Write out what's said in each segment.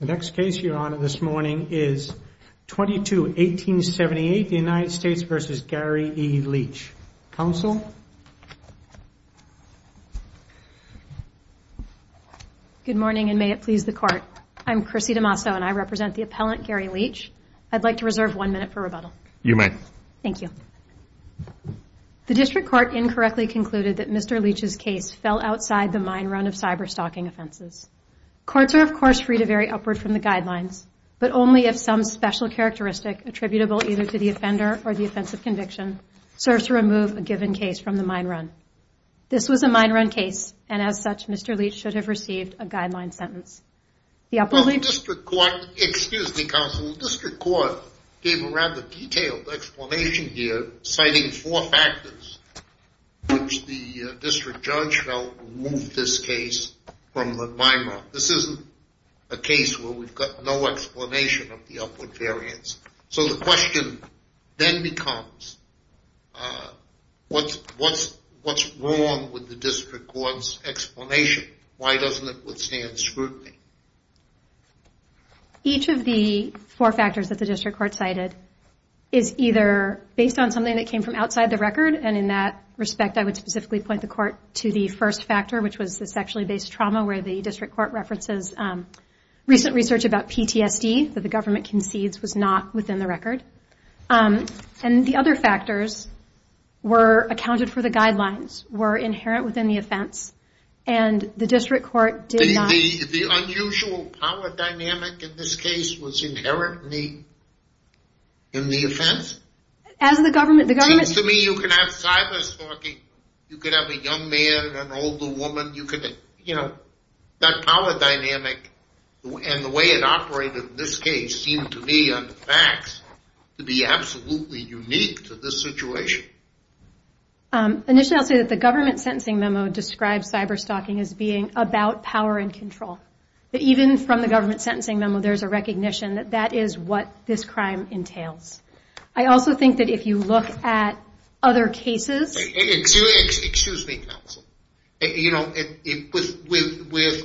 The next case you honor this morning is 22 1878 the United States versus Gary E Leach. Counsel? Good morning and may it please the court. I'm Chrissy D'Amaso and I represent the appellant Gary Leach. I'd like to reserve one minute for rebuttal. You may. Thank you. The district court incorrectly concluded that Mr. Courts are of course free to vary upward from the guidelines but only if some special characteristic attributable either to the offender or the offensive conviction serves to remove a given case from the mine run. This was a mine run case and as such Mr. Leach should have received a guideline sentence. The district judge shall remove this case from the mine run. This isn't a case where we've got no explanation of the upward variance. So the question then becomes what's what's what's wrong with the district court's explanation? Why doesn't it withstand scrutiny? Each of the four factors that the district court cited is either based on something that came from outside the record and in that respect I would specifically point the court to the first factor which was the sexually based trauma where the district court references recent research about PTSD that the government concedes was not within the record. And the other factors were accounted for the guidelines were inherent within the offense and the district court did not. The unusual power dynamic in this case was you could have a young man and an older woman you could you know that power dynamic and the way it operated in this case seemed to me on the facts to be absolutely unique to this situation. Initially I'll say that the government sentencing memo describes cyber stalking as being about power and control. Even from the government sentencing memo there's a recognition that that is what this crime entails. I also think that if you look at other cases... Excuse me counsel. With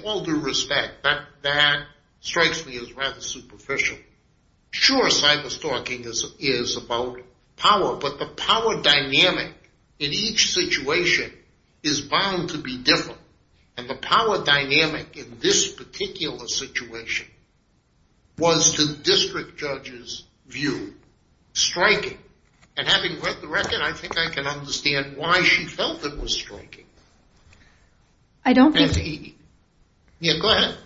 all due respect that strikes me as rather superficial. Sure cyber stalking is about power but the power dynamic in each situation is bound to be different. And the power dynamic in this particular situation was the district judge view. Striking. And having read the record I think I can understand why she felt it was striking. I don't think... Yeah go ahead.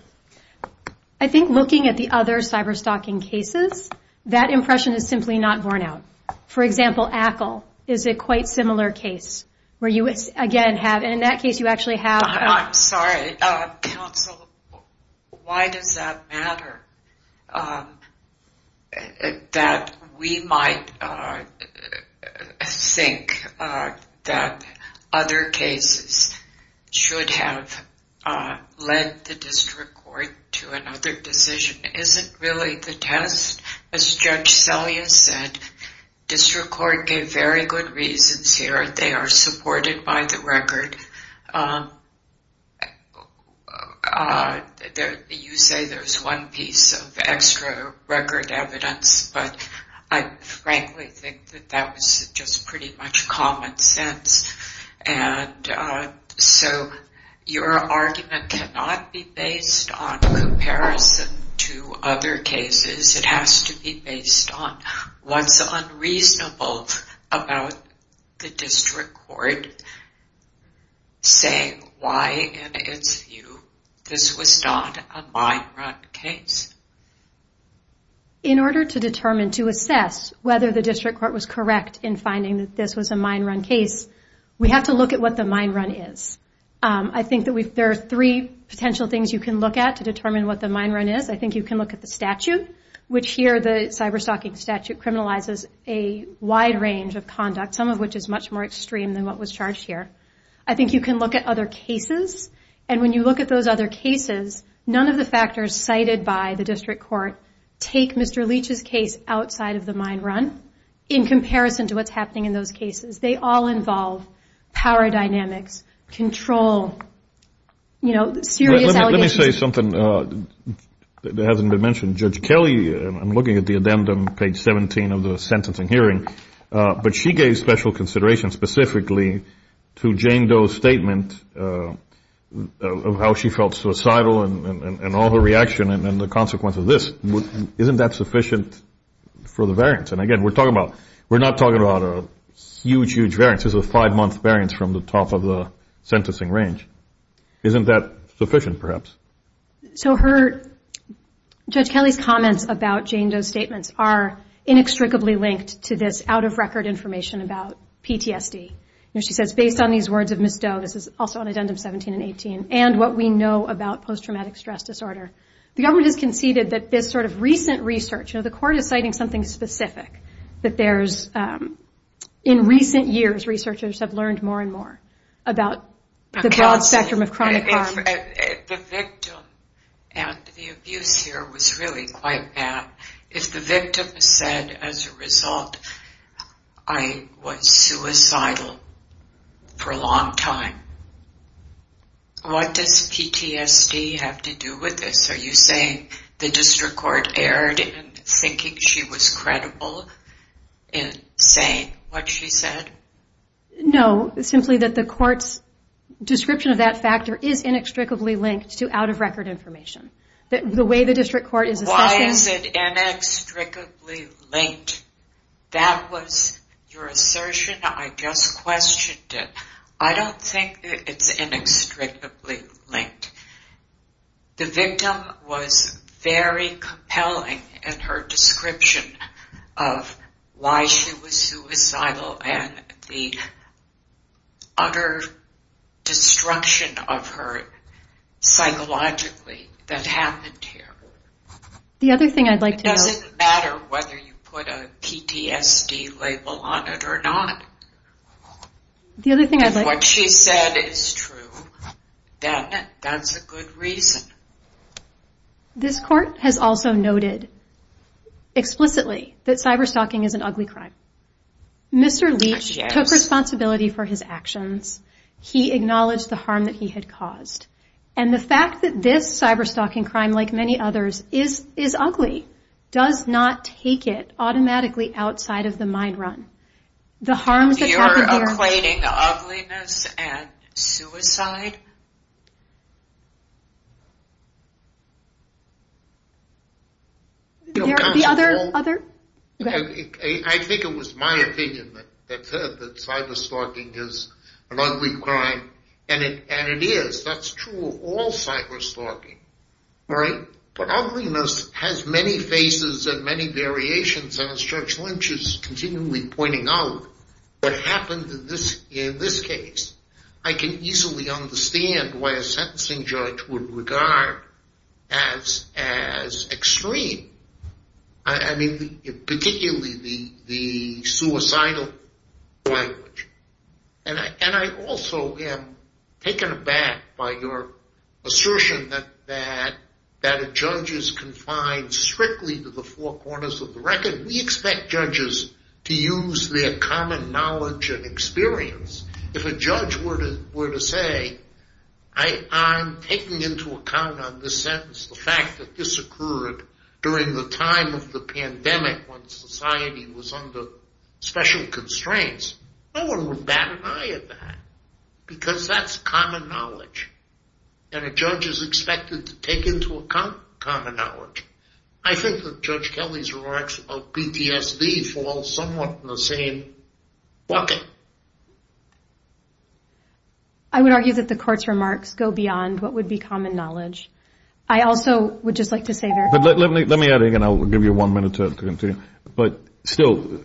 I think looking at the other cyber stalking cases that impression is simply not borne out. For example Ackle is a quite similar case where you again have in that case you actually have... I'm sorry counsel. Why does that matter? That we might think that other cases should have led the district court to another decision isn't really the test. As Judge Selya said district court gave very good reasons here. They are supported by the record. You say there's one piece of extra record evidence but I frankly think that that was just pretty much common sense. And so your argument cannot be based on comparison to other cases. It has to be based on what's unreasonable about the district court. Saying why this was not a mine run case. In order to determine to assess whether the district court was correct in finding that this was a mine run case we have to look at what the mine run is. I think that there are three potential things you can look at to determine what the mine run is. I think you can look at the statute which here the cyber stalking statute criminalizes a wide range of conduct some of which is much more extreme than what we have here. I think you can look at other cases and when you look at those other cases none of the factors cited by the district court take Mr. Leach's case outside of the mine run in comparison to what's happening in those cases. They all involve power dynamics, control, serious allegations. Let me say something that hasn't been mentioned. Judge Kelly, I'm looking at the addendum page 17 of the sentencing hearing, but she gave special consideration specifically to Jane Doe's statement of how she felt suicidal and all her reaction and the consequence of this. Isn't that sufficient for the variance? And again we're talking about, we're not talking about a huge, huge variance. This is a five month variance from the top of the sentencing range. Isn't that sufficient perhaps? So her, Judge Kelly's comments about Jane Doe's statements are inextricably linked to this out of record information about PTSD. She says based on these words of Ms. Doe, this is also on addendum 17 and 18, and what we know about post traumatic stress disorder. The government has conceded that this sort of recent research, the court is citing something specific that there's, in recent years researchers have learned more and more about the broad spectrum of chronic harm. The victim and the abuse here was really quite bad. If the victim said as a result, I was suicidal for a long time, what does PTSD have to do with this? Are you saying the district court erred in thinking she was credible in saying what she said? No, simply that the court's description of that factor is inextricably linked to out of record information. The way the district court is assessing... I don't think it's inextricably linked. That was your assertion. I just questioned it. I don't think it's inextricably linked. The victim was very compelling in her description of why she was suicidal and the utter destruction of her psychologically that happened here. It doesn't matter whether you put a PTSD label on it or not. If what she said is true, then that's a good reason. This court has also noted explicitly that cyber-stalking is an ugly crime. Mr. Leach took responsibility for his actions. He acknowledged the harm that he had caused. The fact that this cyber-stalking crime, like many others, is ugly does not take it automatically outside of the mind run. You're acclaiming ugliness and suicide? I think it was my opinion that cyber-stalking is an ugly crime, and it is. That's true of all cyber-stalking. But ugliness has many faces and many variations. As Judge Lynch is continually pointing out, what happened in this case, I can easily understand why a sentencing judge would regard as extreme, particularly the suicidal language. And I also am taken aback by your assertion that a judge is confined strictly to the four corners of the record. We expect judges to use their common knowledge and experience. If a judge were to say, I'm taking into account on this sentence the fact that this occurred during the time of the pandemic when society was under special constraints, no one would bat an eye at that, because that's common knowledge. And a judge is expected to take into account common knowledge. I think that Judge Kelly's remarks about PTSD fall somewhat in the same bucket. I would argue that the court's remarks go beyond what would be common knowledge. I also would just like to say there's... But let me add again, I'll give you one minute to continue. But still,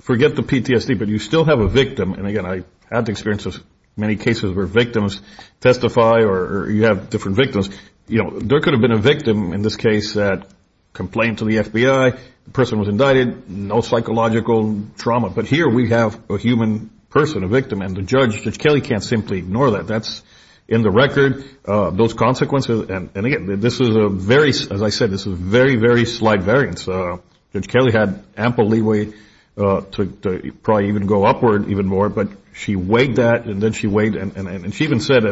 forget the PTSD, but you still have a victim. And again, I have the experience of many cases where victims testify or you have different victims. There could have been a victim in this case that complained to the FBI, the person was indicted, no psychological trauma. But here we have a human person, a victim, and the judge, Judge Kelly, can't simply ignore that. That's in the record, those consequences. And again, this is a very, as I said, this is a very, very slight variance. Judge Kelly had ample leeway to probably even go upward even more, but she weighed that, and then she weighed... And she even said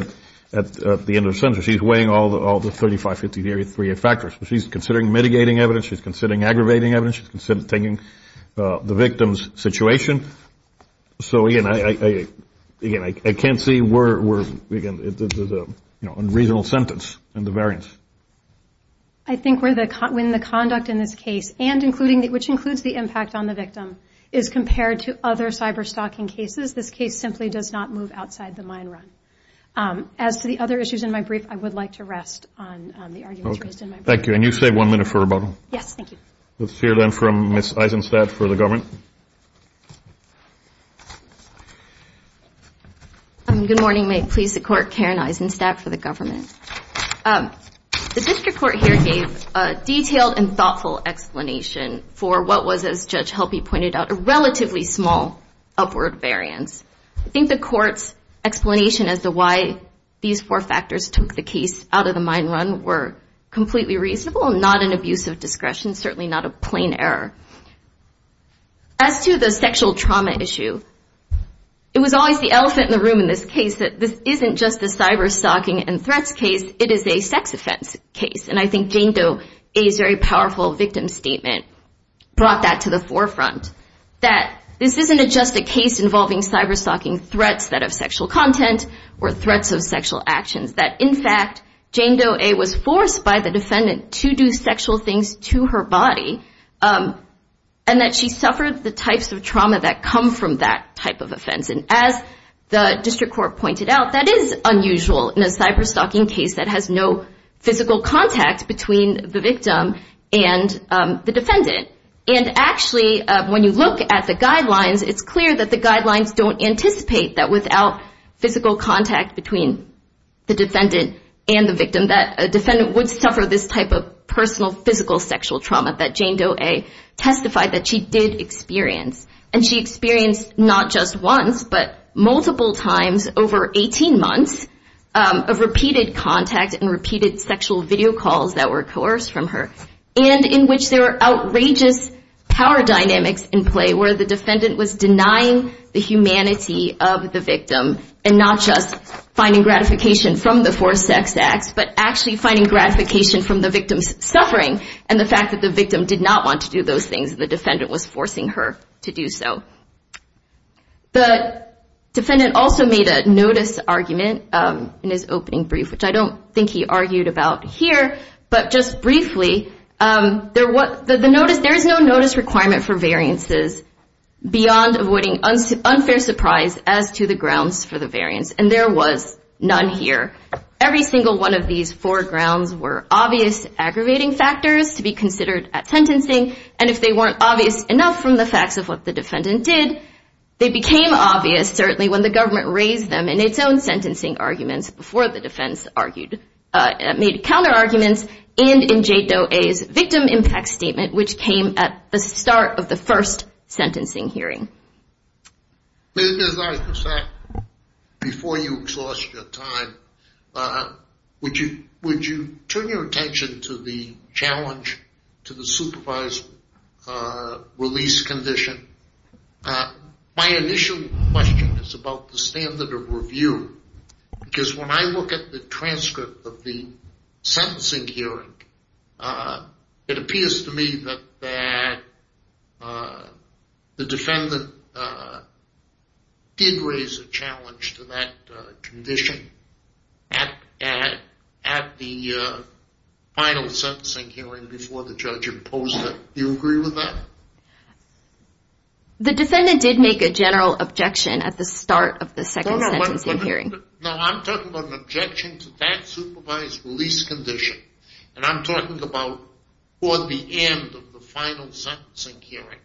at the end of the sentence, she's weighing all the 35, 50, 30, 30 factors. She's considering mitigating evidence, she's considering aggravating evidence, she's considering taking the victim's situation. So again, I can't see where, again, there's an unreasonable sentence in the variance. I think when the conduct in this case, and including, which includes the impact on the victim, is compared to other cyber stalking cases, this case simply does not move outside the mine run. As to the other issues in my brief, I would like to rest on the arguments raised in my brief. The district court here gave a detailed and thoughtful explanation for what was, as Judge Helpe pointed out, a relatively small upward variance. I think the court's explanation as to why these four factors took the case out of the mine run were completely reasonable, not an abuse of discretion, certainly not a plain error. As to the sexual trauma issue, it was always the elephant in the room in this case that this isn't just a cyber stalking and threats case, it is a sex offense case. And I think Jane Doe A.'s very powerful victim statement brought that to the forefront, that this isn't just a case involving cyber stalking threats that have sexual content or threats of sexual actions. That, in fact, Jane Doe A. was forced by the defendant to do sexual things to her body, and that she suffered the types of trauma that come from that type of offense. And as the district court pointed out, that is unusual in a cyber stalking case that has no physical contact between the victim and the defendant. And actually, when you look at the guidelines, it's clear that the guidelines don't anticipate that without physical contact between the defendant and the victim that a defendant would suffer this type of personal physical sexual trauma that Jane Doe A. testified that she did experience. And she experienced not just once, but multiple times over 18 months of repeated contact and repeated sexual video calls that were coerced from her, and in which there were outrageous power dynamics in play where the defendant was denying the humanity of the victim and not just finding gratification from the forced sex acts, but actually finding gratification from the victim's suffering and the fact that the victim did not want to do those things that the defendant was forcing her to do. The defendant also made a notice argument in his opening brief, which I don't think he argued about here, but just briefly, there is no notice requirement for variances beyond avoiding unfair surprise as to the grounds for the variance, and there was none here. Every single one of these four grounds were obvious aggravating factors to be considered at sentencing, and if they weren't obvious enough from the facts of what the defendant did, they became obvious certainly when the government raised them in its own sentencing arguments before the defense made counter arguments and in Jane Doe A's victim impact statement, which came at the start of the first sentencing hearing. As I said before you exhaust your time, would you turn your attention to the challenge to the supervised release condition? My initial question is about the standard of review, because when I look at the transcript of the sentencing hearing, it appears to me that the defendant did raise a challenge to that condition at the final sentencing hearing before the judge imposed it. Do you agree with that? The defendant did make a general objection at the start of the second sentencing hearing. No, I'm talking about an objection to that supervised release condition, and I'm talking about toward the end of the final sentencing hearing.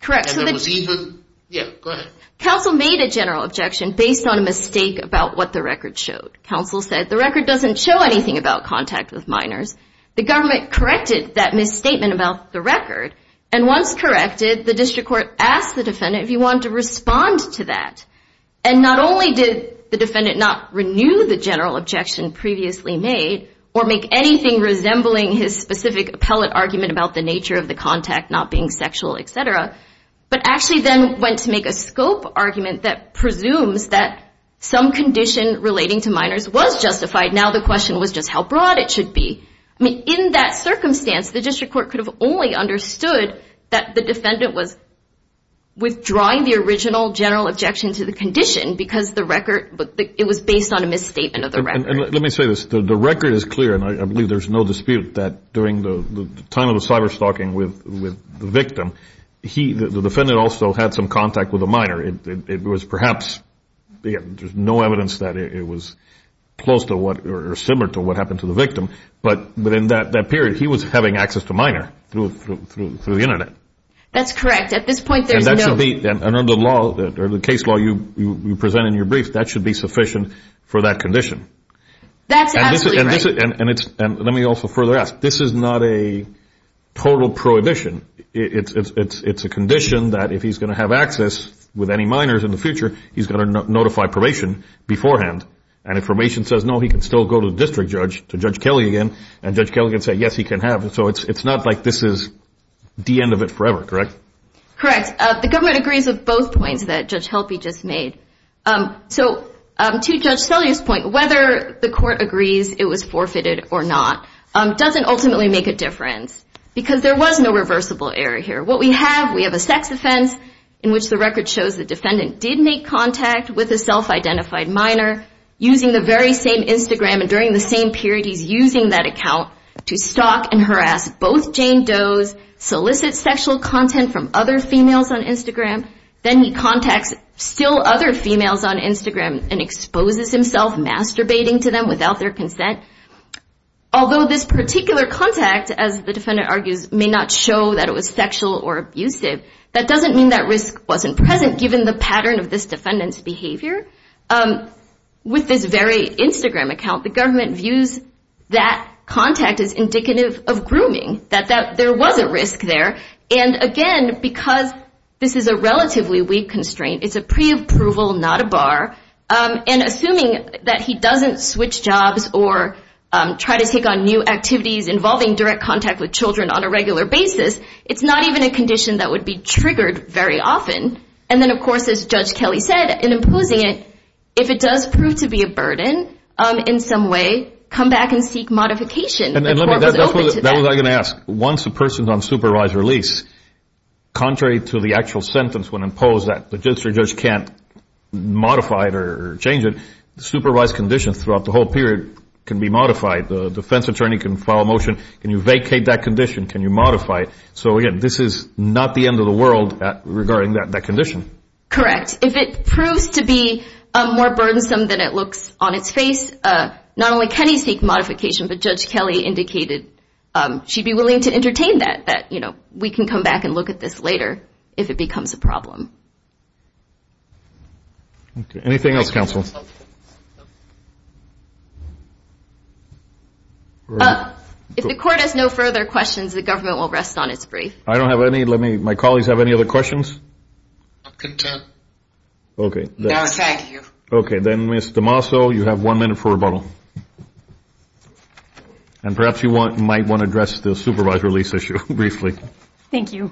Correct. And there was even, yeah, go ahead. Counsel made a general objection based on a mistake about what the record showed. Counsel said the record doesn't show anything about contact with minors. The government corrected that misstatement about the record, and once corrected, the district court asked the defendant if he wanted to respond to that. And not only did the defendant not renew the general objection previously made or make anything resembling his specific appellate argument about the nature of the contact not being sexual, etc., but actually then went to make a scope argument that presumes that some condition relating to minors was justified. Now the question was just how broad it should be. I mean, in that circumstance, the district court could have only understood that the defendant was withdrawing the original general objection to the condition because the record, it was based on a misstatement of the record. And let me say this. The record is clear, and I believe there's no dispute that during the time of the cyberstalking with the victim, the defendant also had some contact with a minor. It was perhaps, there's no evidence that it was close to what or similar to what happened to the victim, but in that period, he was having access to minor through the Internet. That's correct. At this point, there's no- And that should be, under the law, or the case law you present in your brief, that should be sufficient for that condition. That's absolutely right. And let me also further ask. This is not a total prohibition. It's a condition that if he's going to have access with any minors in the future, he's going to notify probation beforehand. And if probation says no, he can still go to the district judge, to Judge Kelly again, and Judge Kelly can say yes, he can have. So it's not like this is the end of it forever, correct? Correct. The government agrees with both points that Judge Helpe just made. So to Judge Sellier's point, whether the court agrees it was forfeited or not doesn't ultimately make a difference because there was no reversible error here. What we have, we have a sex offense in which the record shows the defendant did make contact with a self-identified minor using the very same Instagram. And during the same period, he's using that account to stalk and harass both Jane Does, solicit sexual content from other females on Instagram. Then he contacts still other females on Instagram and exposes himself masturbating to them without their consent. Although this particular contact, as the defendant argues, may not show that it was sexual or abusive, that doesn't mean that risk wasn't present given the pattern of this defendant's behavior. With this very Instagram account, the government views that contact as indicative of grooming, that there was a risk there. And again, because this is a relatively weak constraint, it's a preapproval, not a bar. And assuming that he doesn't switch jobs or try to take on new activities involving direct contact with children on a regular basis, it's not even a condition that would be triggered very often. And then, of course, as Judge Kelly said, in imposing it, if it does prove to be a burden in some way, come back and seek modification. That's what I was going to ask. Once a person is on supervised release, contrary to the actual sentence when imposed that the judge can't modify it or change it, supervised conditions throughout the whole period can be modified. The defense attorney can file a motion, can you vacate that condition, can you modify it? So again, this is not the end of the world regarding that condition. Correct. If it proves to be more burdensome than it looks on its face, not only can he seek modification, but Judge Kelly indicated she'd be willing to entertain that, that we can come back and look at this later if it becomes a problem. Anything else, counsel? If the court has no further questions, the government will rest on its brief. I don't have any, let me, my colleagues have any other questions? I'm content. Okay. No, thank you. Okay, then Ms. DeMaso, you have one minute for rebuttal. And perhaps you might want to address the supervised release issue briefly. Thank you.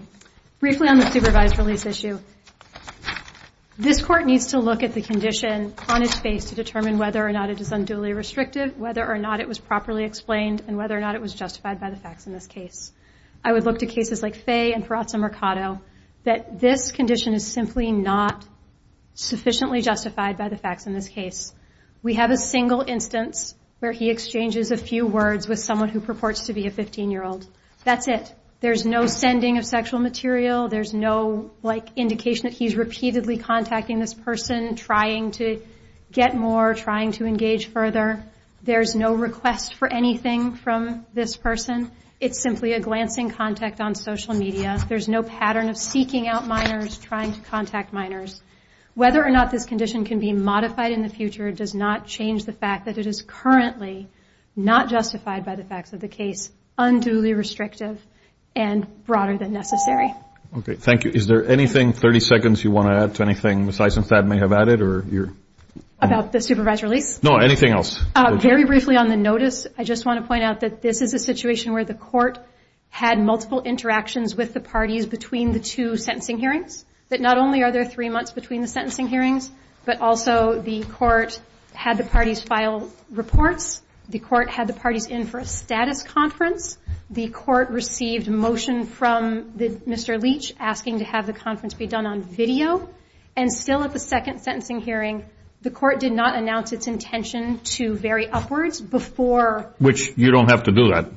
Briefly on the supervised release issue, this court needs to look at the condition on its face to determine whether or not it is unduly restrictive, whether or not it was properly explained, and whether or not it was justified by the facts in this case. I would look to cases like Fay and Peraza Mercado, that this condition is simply not sufficiently justified by the facts in this case. We have a single instance where he exchanges a few words with someone who purports to be a 15-year-old. That's it. There's no sending of sexual material. There's no, like, indication that he's repeatedly contacting this person, trying to get more, trying to engage further. There's no request for anything from this person. It's simply a glancing contact on social media. There's no pattern of seeking out minors, trying to contact minors. Whether or not this condition can be modified in the future does not change the fact that it is currently not justified by the facts of the case, unduly restrictive, and broader than necessary. Okay, thank you. Is there anything, 30 seconds, you want to add to anything Ms. Eisenstadt may have added? About the supervised release? No, anything else. Very briefly on the notice, I just want to point out that this is a situation where the court had multiple interactions with the parties between the two sentencing hearings. That not only are there three months between the sentencing hearings, but also the court had the parties file reports. The court had the parties in for a status conference. The court received a motion from Mr. Leach asking to have the conference be done on video. And still at the second sentencing hearing, the court did not announce its intention to vary upwards before. Which you don't have to do that.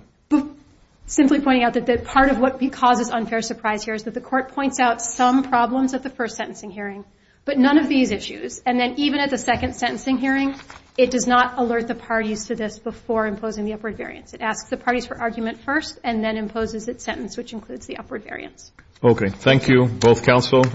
Simply pointing out that part of what causes unfair surprise here is that the court points out some problems at the first sentencing hearing, but none of these issues. And then even at the second sentencing hearing, it does not alert the parties to this before imposing the upward variance. It asks the parties for argument first and then imposes its sentence, which includes the upward variance. Okay, thank you, both counsel.